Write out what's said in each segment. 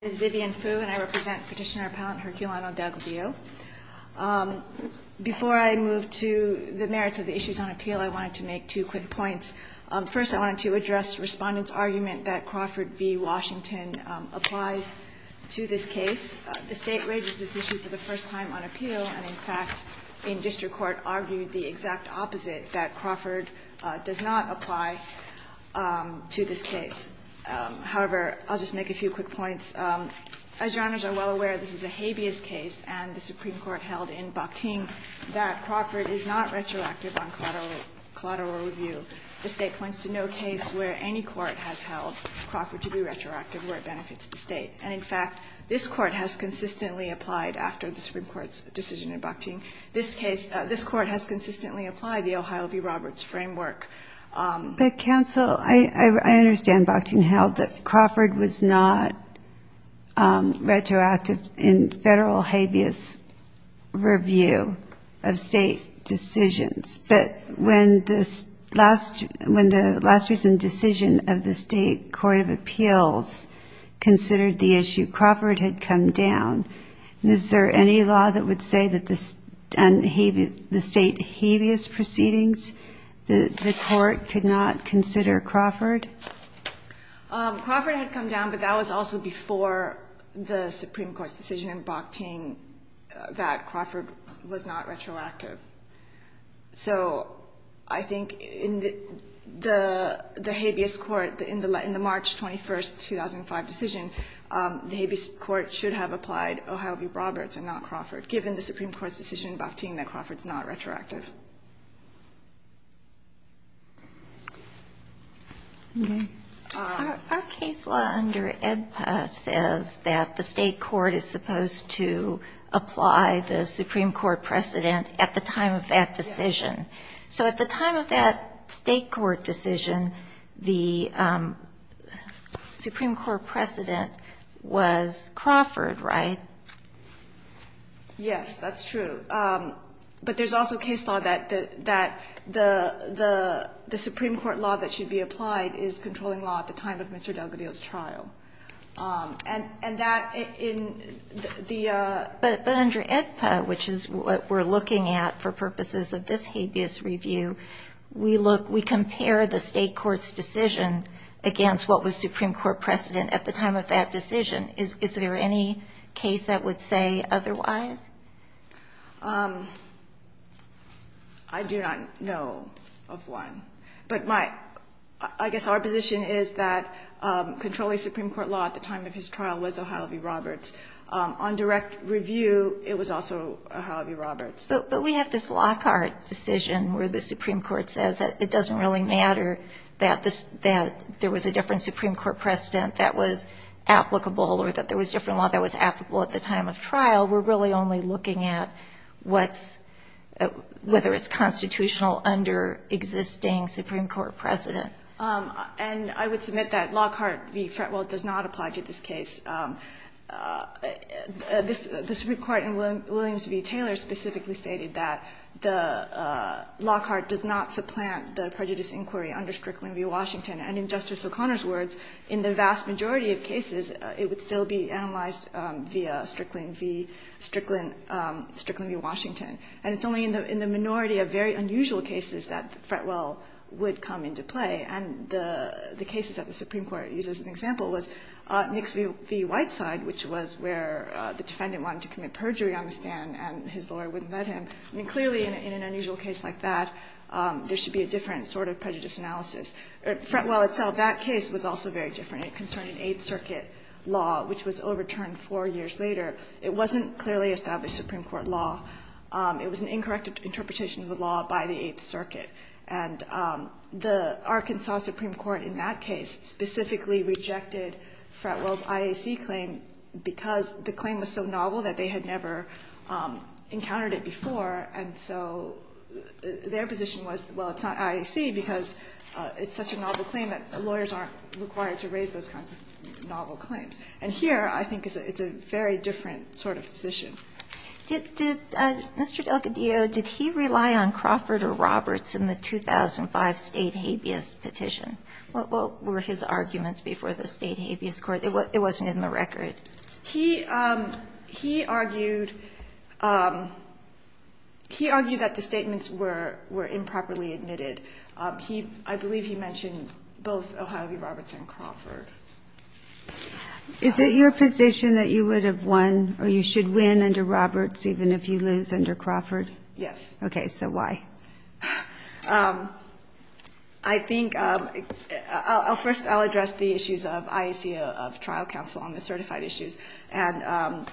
is Vivian Fu and I represent Petitioner Appellant Herculano-Dalgadillo. Before I move to the merits of the issues on appeal, I wanted to make two quick points. First, I wanted to address Respondent's argument that Crawford v. Washington applies to this case. The State raises this issue for the first time on appeal and, in fact, in District Court, argued the exact opposite, that Crawford does not apply to this case. However, I'll just make a few quick points. As Your Honors are well aware, this is a habeas case and the Supreme Court held in Bakhtin that Crawford is not retroactive on collateral review. The State points to no case where any court has held Crawford to be retroactive where it benefits the State. And, in fact, this Court has consistently applied after the Supreme Court's decision in Bakhtin. This case, this Court has consistently applied the Ohio v. Roberts framework. But, Counsel, I understand Bakhtin held that Crawford was not retroactive in Federal habeas review of State decisions. But when the last recent decision of the State Court of Appeals considered the issue, Crawford had come down. And is there any law that would say that the State habeas proceedings, the Court could not consider Crawford? Crawford had come down, but that was also before the Supreme Court's decision in Bakhtin that Crawford was not retroactive. So I think in the habeas court, in the March 21, 2005 decision, the habeas court should have applied Ohio v. Roberts and not Crawford, given the Supreme Court's decision in Bakhtin that Crawford is not retroactive. Ginsburg. Our case law under AEDPA says that the State court is supposed to apply the Supreme Court precedent at the time of that decision. So at the time of that State court decision, the Supreme Court precedent was Crawford, right? Yes, that's true. But there's also case law that the Supreme Court law that should be applied is controlling law at the time of Mr. DelGaudio's trial. And that in the ---- But under AEDPA, which is what we're looking at for purposes of this habeas review, we look, we compare the State court's decision against what was Supreme Court precedent at the time of that decision. Is there any case that would say otherwise? I do not know of one. But my ---- I guess our position is that controlling Supreme Court law at the time of his trial was O'Hara v. Roberts. On direct review, it was also O'Hara v. Roberts. But we have this Lockhart decision where the Supreme Court says that it doesn't really matter that there was a different Supreme Court precedent that was applicable or that there was different law that was applicable at the time of trial. We're really only looking at what's, whether it's constitutional under existing Supreme Court precedent. And I would submit that Lockhart v. Fretwell does not apply to this case. The Supreme Court in Williams v. Taylor specifically stated that the Lockhart does not supplant the prejudice inquiry under Strickland v. Washington. And in Justice O'Connor's words, in the vast majority of cases it would still be analyzed via Strickland v. Washington. And it's only in the minority of very unusual cases that Fretwell would come into play, and the cases that the Supreme Court used as an example was Nix v. Whiteside, which was where the defendant wanted to commit perjury on the stand and his lawyer wouldn't let him. I mean, clearly in an unusual case like that, there should be a different sort of prejudice analysis. Fretwell itself, that case was also very different. It concerned an Eighth Circuit law, which was overturned four years later. It wasn't clearly established Supreme Court law. It was an incorrect interpretation of the law by the Eighth Circuit. And the Arkansas Supreme Court in that case specifically rejected Fretwell's IAC claim because the claim was so novel that they had never encountered it before. And so their position was, well, it's not IAC because it's such a novel claim that lawyers aren't required to raise those kinds of novel claims. And here I think it's a very different sort of position. Did Mr. Delgadillo, did he rely on Crawford or Roberts in the 2005 State habeas petition? What were his arguments before the State habeas court? It wasn't in the record. He argued that the statements were improperly admitted. I believe he mentioned both Ohio v. Roberts and Crawford. Is it your position that you would have won or you should win under Roberts even if you lose under Crawford? Yes. Okay. So why? I think, first I'll address the issues of IAC of trial counsel on the certified issues. And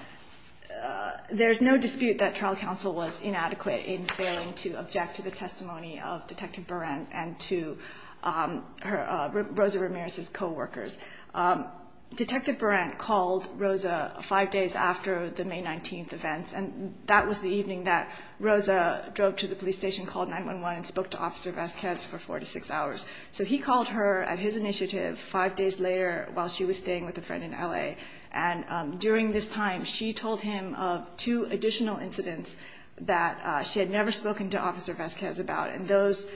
there's no dispute that trial counsel was inadequate in failing to object to the testimony of Detective Berant and to Rosa Ramirez's coworkers. Detective Berant called Rosa five days after the May 19th events, and that was the evening that Rosa drove to the police station, called 911, and spoke to Officer Vasquez for four to six hours. So he called her at his initiative five days later while she was staying with a friend in L.A. And during this time, she told him of two additional incidents that she had never spoken to Officer Vasquez about, and those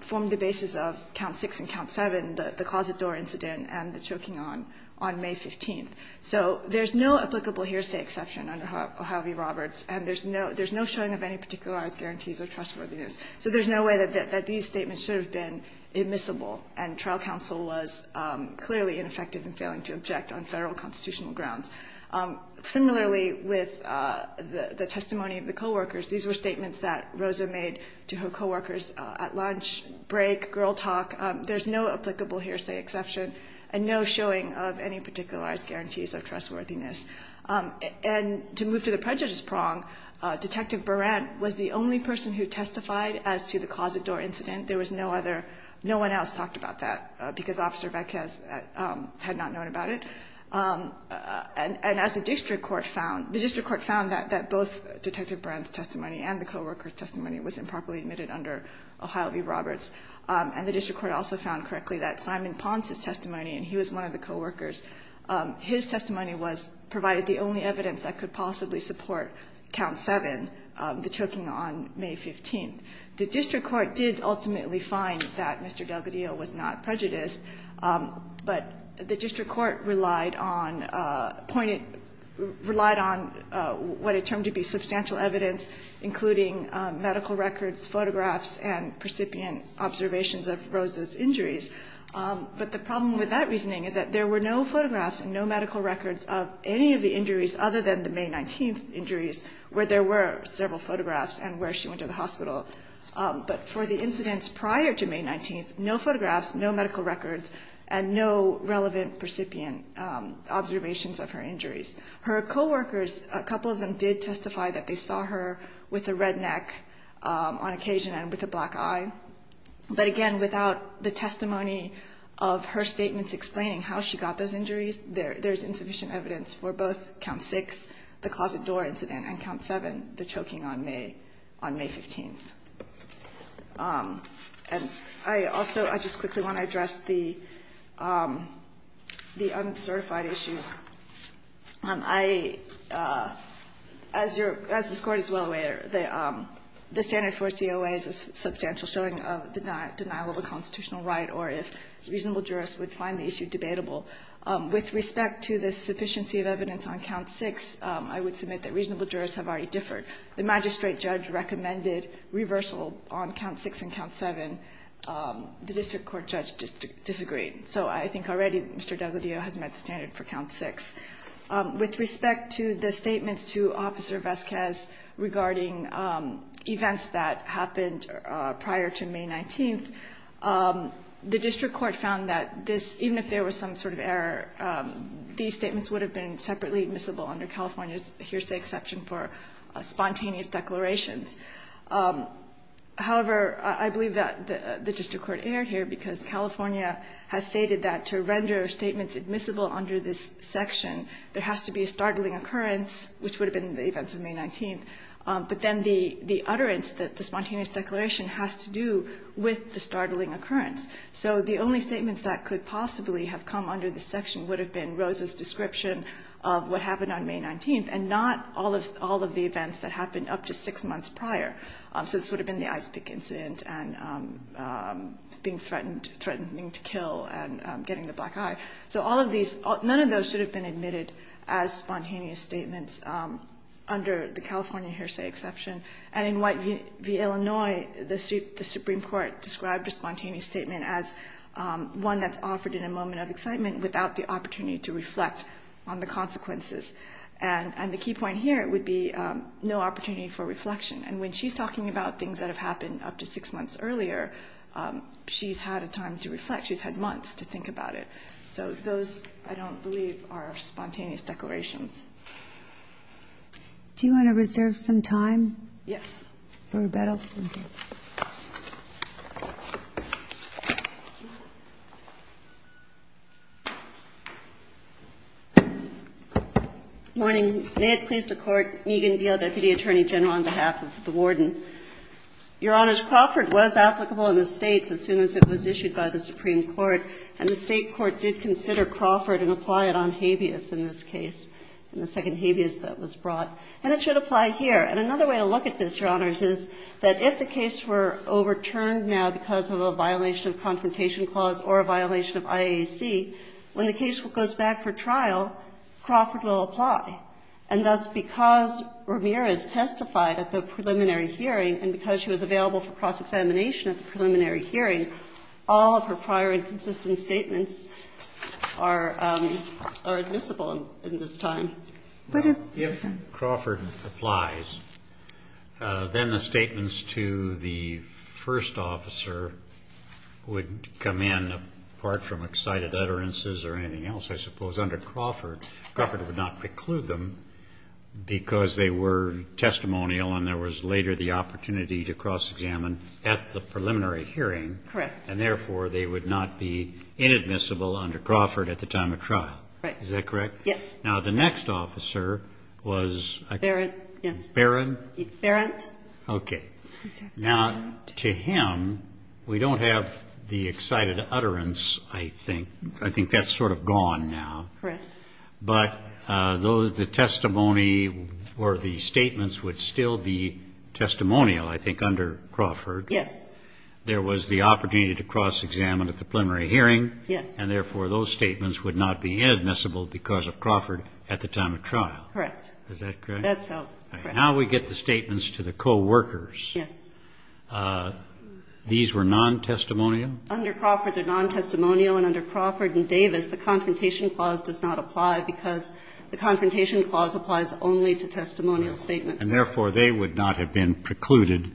formed the basis of Count 6 and Count 7, the closet door incident and the choking on, on May 15th. So there's no applicable hearsay exception under Ohio v. Roberts, and there's no showing of any particularized guarantees of trustworthiness. So there's no way that these statements should have been admissible, and trial counsel was clearly ineffective in failing to object on Federal constitutional grounds. Similarly, with the testimony of the coworkers, these were statements that Rosa made to her coworkers at lunch break, girl talk. There's no applicable hearsay exception and no showing of any particularized guarantees of trustworthiness. And to move to the prejudice prong, Detective Berant was the only person who testified as to the closet door incident. There was no other, no one else talked about that because Officer Vasquez had not known about it. And as the district court found, the district court found that both Detective Berant's testimony and the coworkers' testimony was improperly admitted under Ohio v. Roberts. And the district court also found correctly that Simon Ponce's testimony, and he was one of the coworkers, his testimony was, provided the only evidence that could possibly support Count 7, the choking on May 15th. The district court did ultimately find that Mr. Delgadillo was not prejudiced, but the district court relied on, pointed, relied on what it termed to be substantial evidence, including medical records, photographs, and precipient observations of Rosa's injuries. But the problem with that reasoning is that there were no photographs and no medical records of any of the injuries other than the May 19th injuries where there were several photographs and where she went to the hospital. But for the incidents prior to May 19th, no photographs, no medical records, and no relevant precipient observations of her injuries. Her coworkers, a couple of them did testify that they saw her with a red neck on occasion and with a black eye. But again, without the testimony of her statements explaining how she got those injuries, there's insufficient evidence for both Count 6, the closet door incident, and Count 7, the choking on May, on May 15th. And I also, I just quickly want to address the uncertified issues. I, as your, as this Court is well aware, the standard for COA is a substantial showing of denial of a constitutional right or if reasonable jurists would find the issue debatable. With respect to the sufficiency of evidence on Count 6, I would submit that reasonable jurists have already differed. The magistrate judge recommended reversal on Count 6 and Count 7. The district court judge disagreed. So I think already Mr. D'Agostino has met the standard for Count 6. With respect to the statements to Officer Vasquez regarding events that happened prior to May 19th, the district court found that this, even if there was some sort of error, these statements would have been separately admissible under California's exception for spontaneous declarations. However, I believe that the district court erred here because California has stated that to render statements admissible under this section, there has to be a startling occurrence, which would have been the events of May 19th, but then the utterance that the spontaneous declaration has to do with the startling occurrence. So the only statements that could possibly have come under this section would have been Rose's description of what happened on May 19th and not all of the events that happened up to six months prior. So this would have been the ice pick incident and being threatened, threatening to kill and getting the black eye. So all of these, none of those should have been admitted as spontaneous statements under the California hearsay exception. And in White v. Illinois, the Supreme Court described a spontaneous statement as one that's offered in a moment of excitement without the opportunity to reflect on the consequences. And the key point here would be no opportunity for reflection. And when she's talking about things that have happened up to six months earlier, she's had a time to reflect. She's had months to think about it. So those, I don't believe, are spontaneous declarations. Do you want to reserve some time? Yes. For rebuttal? Okay. Morning. May it please the Court. Megan Beal, Deputy Attorney General, on behalf of the Warden. Your Honors, Crawford was applicable in the States as soon as it was issued by the Supreme Court, and the State court did consider Crawford and apply it on habeas in this case, in the second habeas that was brought. And it should apply here. And another way to look at this, Your Honors, is that if the case were overturned now because of a violation of Confrontation Clause or a violation of IAAC, when the case goes back for trial, Crawford will apply. And thus, because Ramirez testified at the preliminary hearing and because she was available for cross-examination at the preliminary hearing, all of her prior inconsistent statements are admissible in this time. If Crawford applies, then the statements to the first officer would come in, apart from excited utterances or anything else, I suppose, under Crawford. Crawford would not preclude them because they were testimonial and there was later the opportunity to cross-examine at the preliminary hearing. Correct. And therefore, they would not be inadmissible under Crawford at the time of trial. Right. Is that correct? Yes. Now, the next officer was? Yes. Barrett? Barrett. Okay. Now, to him, we don't have the excited utterance, I think. I think that's sort of gone now. Correct. But the testimony or the statements would still be testimonial, I think, under Crawford. Yes. There was the opportunity to cross-examine at the preliminary hearing. Yes. And therefore, those statements would not be inadmissible because of Crawford at the time of trial. Correct. Is that correct? That's how. Now we get the statements to the co-workers. Yes. These were non-testimonial? Under Crawford, they're non-testimonial. And under Crawford and Davis, the Confrontation Clause does not apply because the Confrontation Clause applies only to testimonial statements. And therefore, they would not have been precluded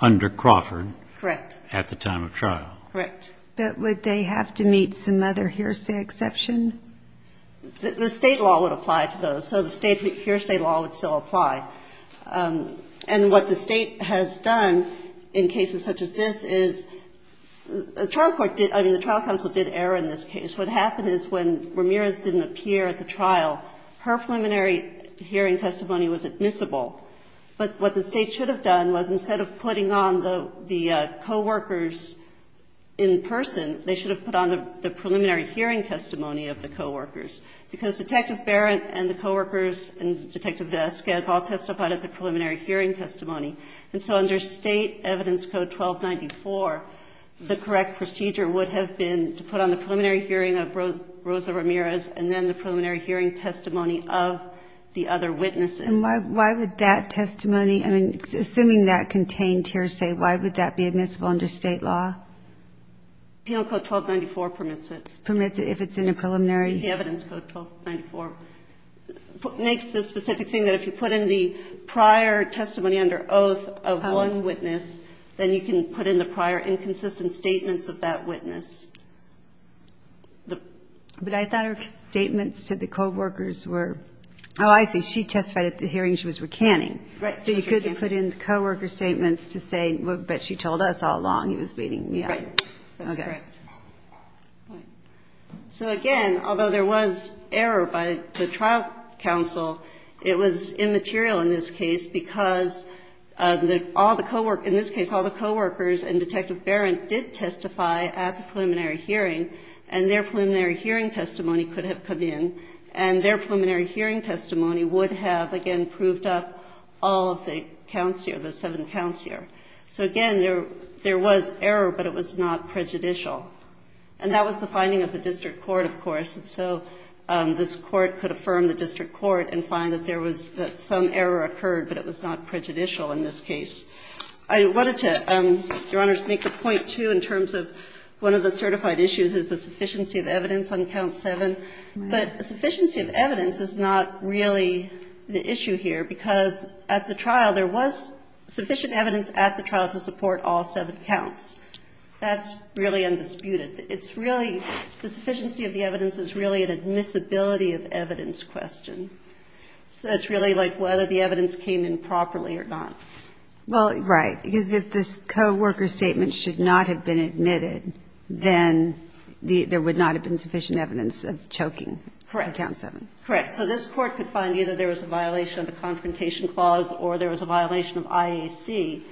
under Crawford at the time of trial. Correct. But would they have to meet some other hearsay exception? The state law would apply to those. So the state hearsay law would still apply. And what the state has done in cases such as this is the trial court did – I mean, the trial counsel did error in this case. What happened is when Ramirez didn't appear at the trial, her preliminary hearing testimony was admissible. But what the state should have done was instead of putting on the co-workers in person, they should have put on the preliminary hearing testimony of the co-workers. Because Detective Barrett and the co-workers and Detective Vasquez all testified at the preliminary hearing testimony. And so under State Evidence Code 1294, the correct procedure would have been to put on the preliminary hearing of Rosa Ramirez and then the preliminary hearing testimony of the other witnesses. And why would that testimony – I mean, assuming that contained hearsay, why would that be admissible under state law? Penal Code 1294 permits it. Permits it if it's in a preliminary. State Evidence Code 1294 makes the specific thing that if you put in the prior testimony under oath of one witness, then you can put in the prior inconsistent statements of that witness. But I thought her statements to the co-workers were – Oh, I see. She testified at the hearing. She was recanting. Right. So you couldn't put in the co-worker statements to say, but she told us all along he was beating me up. Right. That's correct. So again, although there was error by the trial counsel, it was immaterial in this case because all the co-workers – in this case, all the co-workers and Detective Barrett did testify at the preliminary hearing and their preliminary hearing testimony could have come in and their preliminary hearing testimony would have, again, proved up all of the counts here, the seven counts here. So again, there was error, but it was not prejudicial. And that was the finding of the district court, of course. And so this Court could affirm the district court and find that there was – that some error occurred, but it was not prejudicial in this case. I wanted to, Your Honors, make a point, too, in terms of one of the certified issues is the sufficiency of evidence on Count 7. But sufficiency of evidence is not really the issue here because at the trial, there was sufficient evidence at the trial to support all seven counts. That's really undisputed. It's really – the sufficiency of the evidence is really an admissibility of evidence question. So it's really like whether the evidence came in properly or not. Well, right. Because if this co-worker statement should not have been admitted, then there would not have been sufficient evidence of choking on Count 7. Correct. Correct. So this Court could find either there was a violation of the Confrontation Clause or there was a violation of IAC,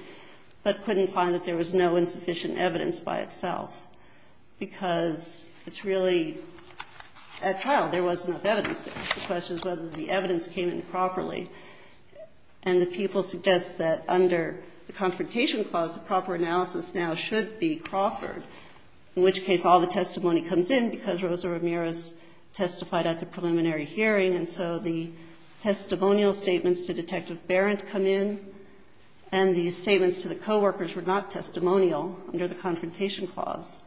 but couldn't find that there was no insufficient evidence by itself because it's really – at trial, there wasn't enough evidence there. The question is whether the evidence came in properly. And the people suggest that under the Confrontation Clause, the proper analysis now should be Crawford, in which case all the testimony comes in because Rosa Ramirez testified at the preliminary hearing. And so the testimonial statements to Detective Barrett come in, and the statements to the co-workers were not testimonial under the Confrontation Clause,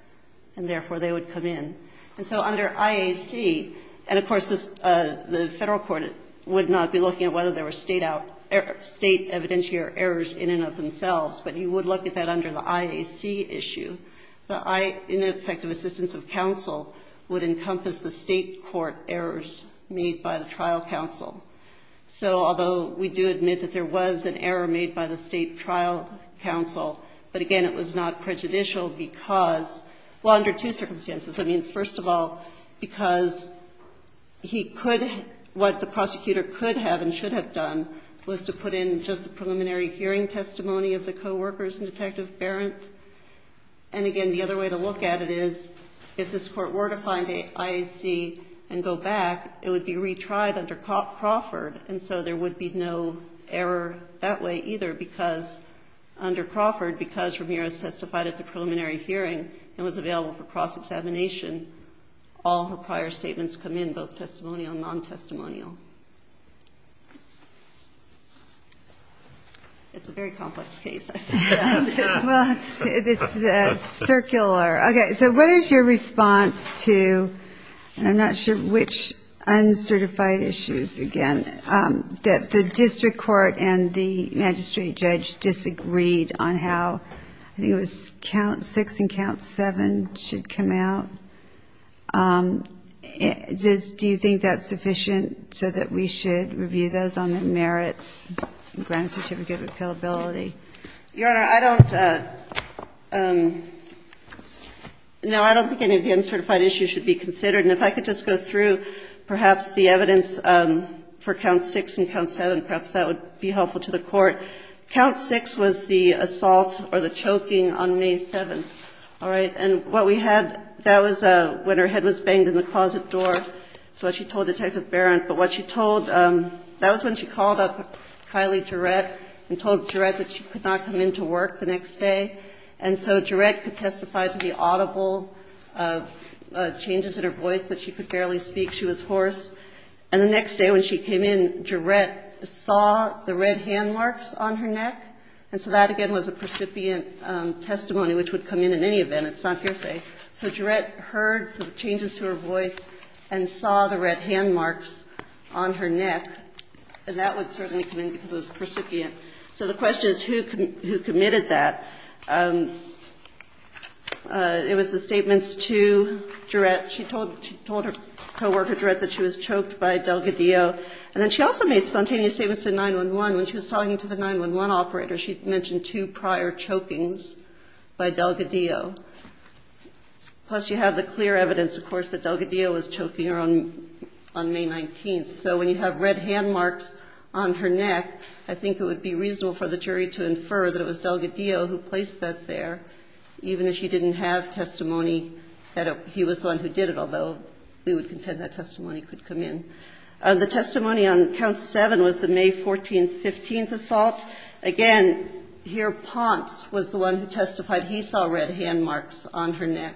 and therefore they would come in. And so under IAC – and of course, the Federal Court would not be looking at whether there were state out – state evidentiary errors in and of themselves, but you would look at that under the IAC issue. The ineffective assistance of counsel would encompass the State court errors made by the trial counsel. So although we do admit that there was an error made by the State trial counsel, but again, it was not prejudicial because – well, under two circumstances. I mean, first of all, because he could – what the prosecutor could have and should have done was to put in just the preliminary hearing testimony of the co-workers in Detective Barrett. And again, the other way to look at it is if this Court were to find IAC and go back, it would be retried under Crawford. And so there would be no error that way either because under Crawford, because Ramirez testified at the preliminary hearing and was available for cross-examination, all her prior statements come in, both testimonial and non-testimonial. It's a very complex case. Well, it's circular. Okay. So what is your response to – and I'm not sure which uncertified issues again that the district court and the magistrate judge disagreed on how – I think it was 6 and count 7 should come out. Do you think that's sufficient so that we should review those on the merits and grant a certificate of appealability? Your Honor, I don't – no, I don't think any of the uncertified issues should be considered. And if I could just go through perhaps the evidence for count 6 and count 7, perhaps that would be helpful to the Court. Count 6 was the assault or the choking on May 7th. All right. And what we had – that was when her head was banged in the closet door. That's what she told Detective Barron. But what she told – that was when she called up Kylie Jarette and told Jarette that she could not come into work the next day. And so Jarette could testify to the audible changes in her voice that she could barely speak. She was hoarse. And the next day when she came in, Jarette saw the red hand marks on her neck. And so that, again, was a percipient testimony, which would come in at any event. It's not hearsay. So Jarette heard the changes to her voice and saw the red hand marks on her neck. And that would certainly come in because it was percipient. So the question is who committed that. It was the statements to Jarette. She told her co-worker Jarette that she was choked by Delgadillo. And then she also made spontaneous statements to 911. When she was talking to the 911 operator, she mentioned two prior chokings by Delgadillo. Plus, you have the clear evidence, of course, that Delgadillo was choking her on May 19th. So when you have red hand marks on her neck, I think it would be reasonable for the jury to infer that it was Delgadillo who placed that there, even if she did it, although we would contend that testimony could come in. The testimony on Count 7 was the May 14th, 15th assault. Again, here Ponce was the one who testified he saw red hand marks on her neck.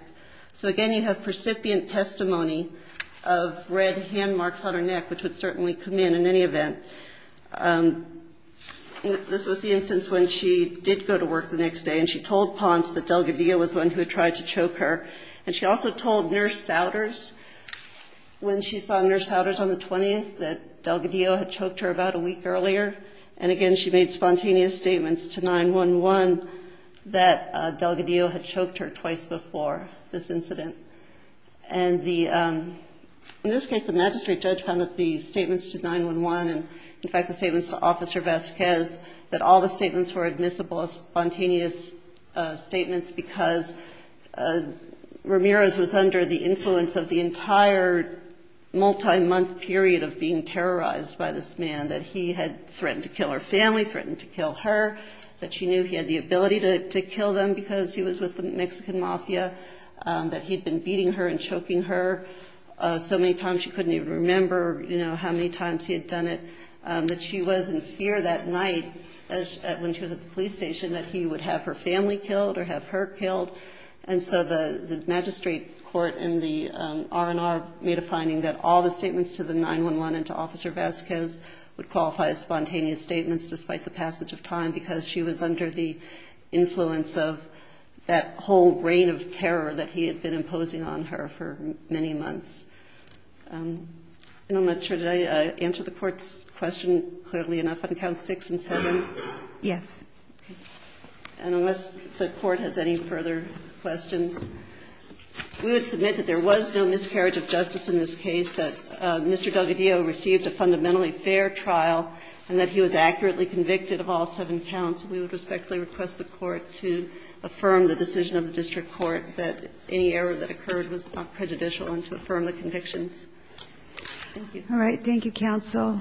So, again, you have percipient testimony of red hand marks on her neck, which would certainly come in at any event. This was the instance when she did go to work the next day, and she told Ponce that Delgadillo was the one who tried to choke her. And she also told Nurse Souders, when she saw Nurse Souders on the 20th, that Delgadillo had choked her about a week earlier. And, again, she made spontaneous statements to 911 that Delgadillo had choked her twice before this incident. And in this case, the magistrate judge found that the statements to 911, and, in fact, the statements to Officer Vasquez, that all the statements were Ramirez was under the influence of the entire multi-month period of being terrorized by this man, that he had threatened to kill her family, threatened to kill her, that she knew he had the ability to kill them because he was with the Mexican mafia, that he had been beating her and choking her so many times she couldn't even remember how many times he had done it, that she was in fear that night when she was at the police station that he would have her family killed or have her killed. And so the magistrate court in the R&R made a finding that all the statements to the 911 and to Officer Vasquez would qualify as spontaneous statements despite the passage of time because she was under the influence of that whole reign of terror that he had been imposing on her for many months. And I'm not sure. Did I answer the Court's question clearly enough on Counts 6 and 7? Yes. And unless the Court has any further questions, we would submit that there was no miscarriage of justice in this case, that Mr. Delgadillo received a fundamentally fair trial and that he was accurately convicted of all seven counts. We would respectfully request the Court to affirm the decision of the district court that any error that occurred was not prejudicial and to affirm the convictions. Thank you. All right. Thank you, counsel.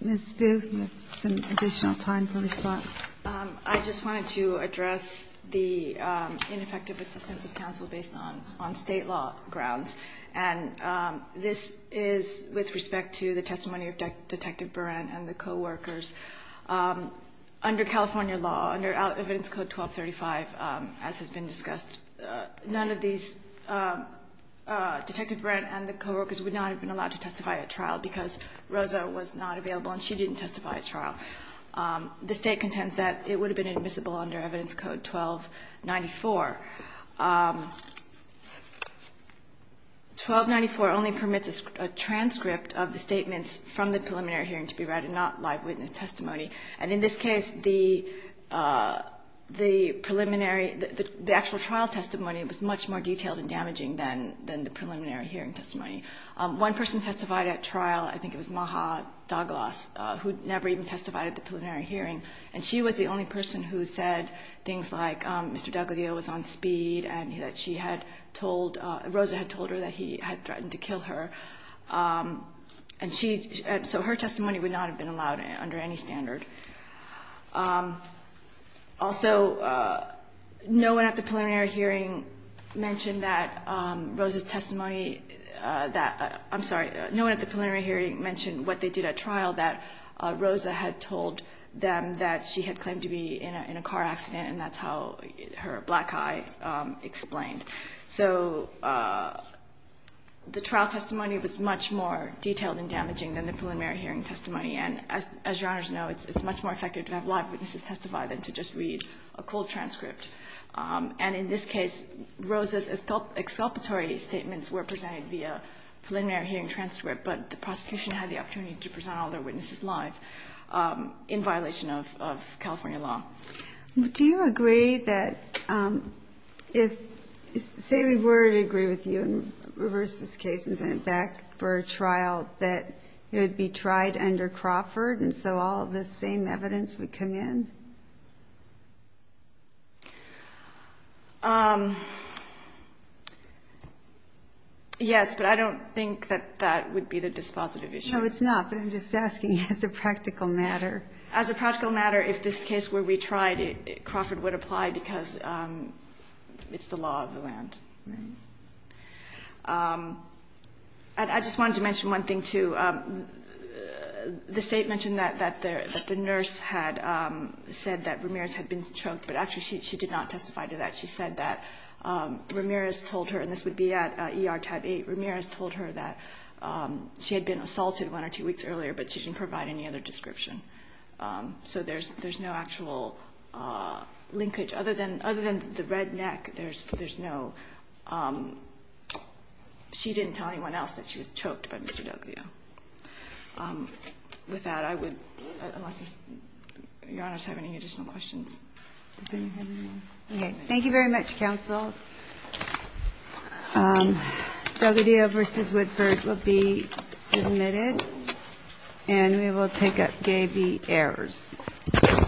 Ms. Buh, you have some additional time for response. I just wanted to address the ineffective assistance of counsel based on State law grounds. And this is with respect to the testimony of Detective Berant and the coworkers. Under California law, under Evidence Code 1235, as has been discussed, none of these Detective Berant and the coworkers would not have been allowed to testify at trial because Rosa was not available and she didn't testify at trial. The State contends that it would have been admissible under Evidence Code 1294. 1294 only permits a transcript of the statements from the preliminary hearing to be read and not live witness testimony. And in this case, the preliminary, the actual trial testimony was much more detailed and damaging than the preliminary hearing testimony. One person testified at trial, I think it was Maha Douglas, who never even testified at the preliminary hearing. And she was the only person who said things like Mr. D'Aglio was on speed and that she had told, Rosa had told her that he had threatened to kill her. And she, so her testimony would not have been allowed under any standard. Also, no one at the preliminary hearing mentioned that Rosa's testimony, that, I'm sorry, no one at the preliminary hearing mentioned what they did at trial, that Rosa had told them that she had claimed to be in a car accident and that's how her black eye explained. So the trial testimony was much more detailed and damaging than the preliminary hearing testimony. And as Your Honors know, it's much more effective to have live witnesses testify than to just read a cold transcript. And in this case, Rosa's exculpatory statements were presented via preliminary hearing transcript, but the prosecution had the opportunity to present all their witnesses live in violation of California law. Do you agree that if, say we were to agree with you and reverse this case and send it back for a trial, that it would be tried under Crawford and so all of the same evidence would come in? Yes, but I don't think that that would be the dispositive issue. No, it's not, but I'm just asking as a practical matter. As a practical matter, if this case were retried, Crawford would apply because it's the law of the land. I just wanted to mention one thing, too. The State mentioned that the nurse had said that Ramirez had been choked, but actually she did not testify to that. She said that Ramirez told her, and this would be at ER tab 8, Ramirez told her that she had been assaulted one or two weeks earlier, but she didn't provide any other description. So there's no actual linkage. Other than the red neck, there's no, she didn't tell anyone else that she was choked by Mr. D'Oglio. With that, I would, unless Your Honors have any additional questions. Okay. Thank you very much, counsel. D'Oglio v. Woodford will be submitted, and we will take up Gaby Ayers. Thank you. Cheers. Cheers.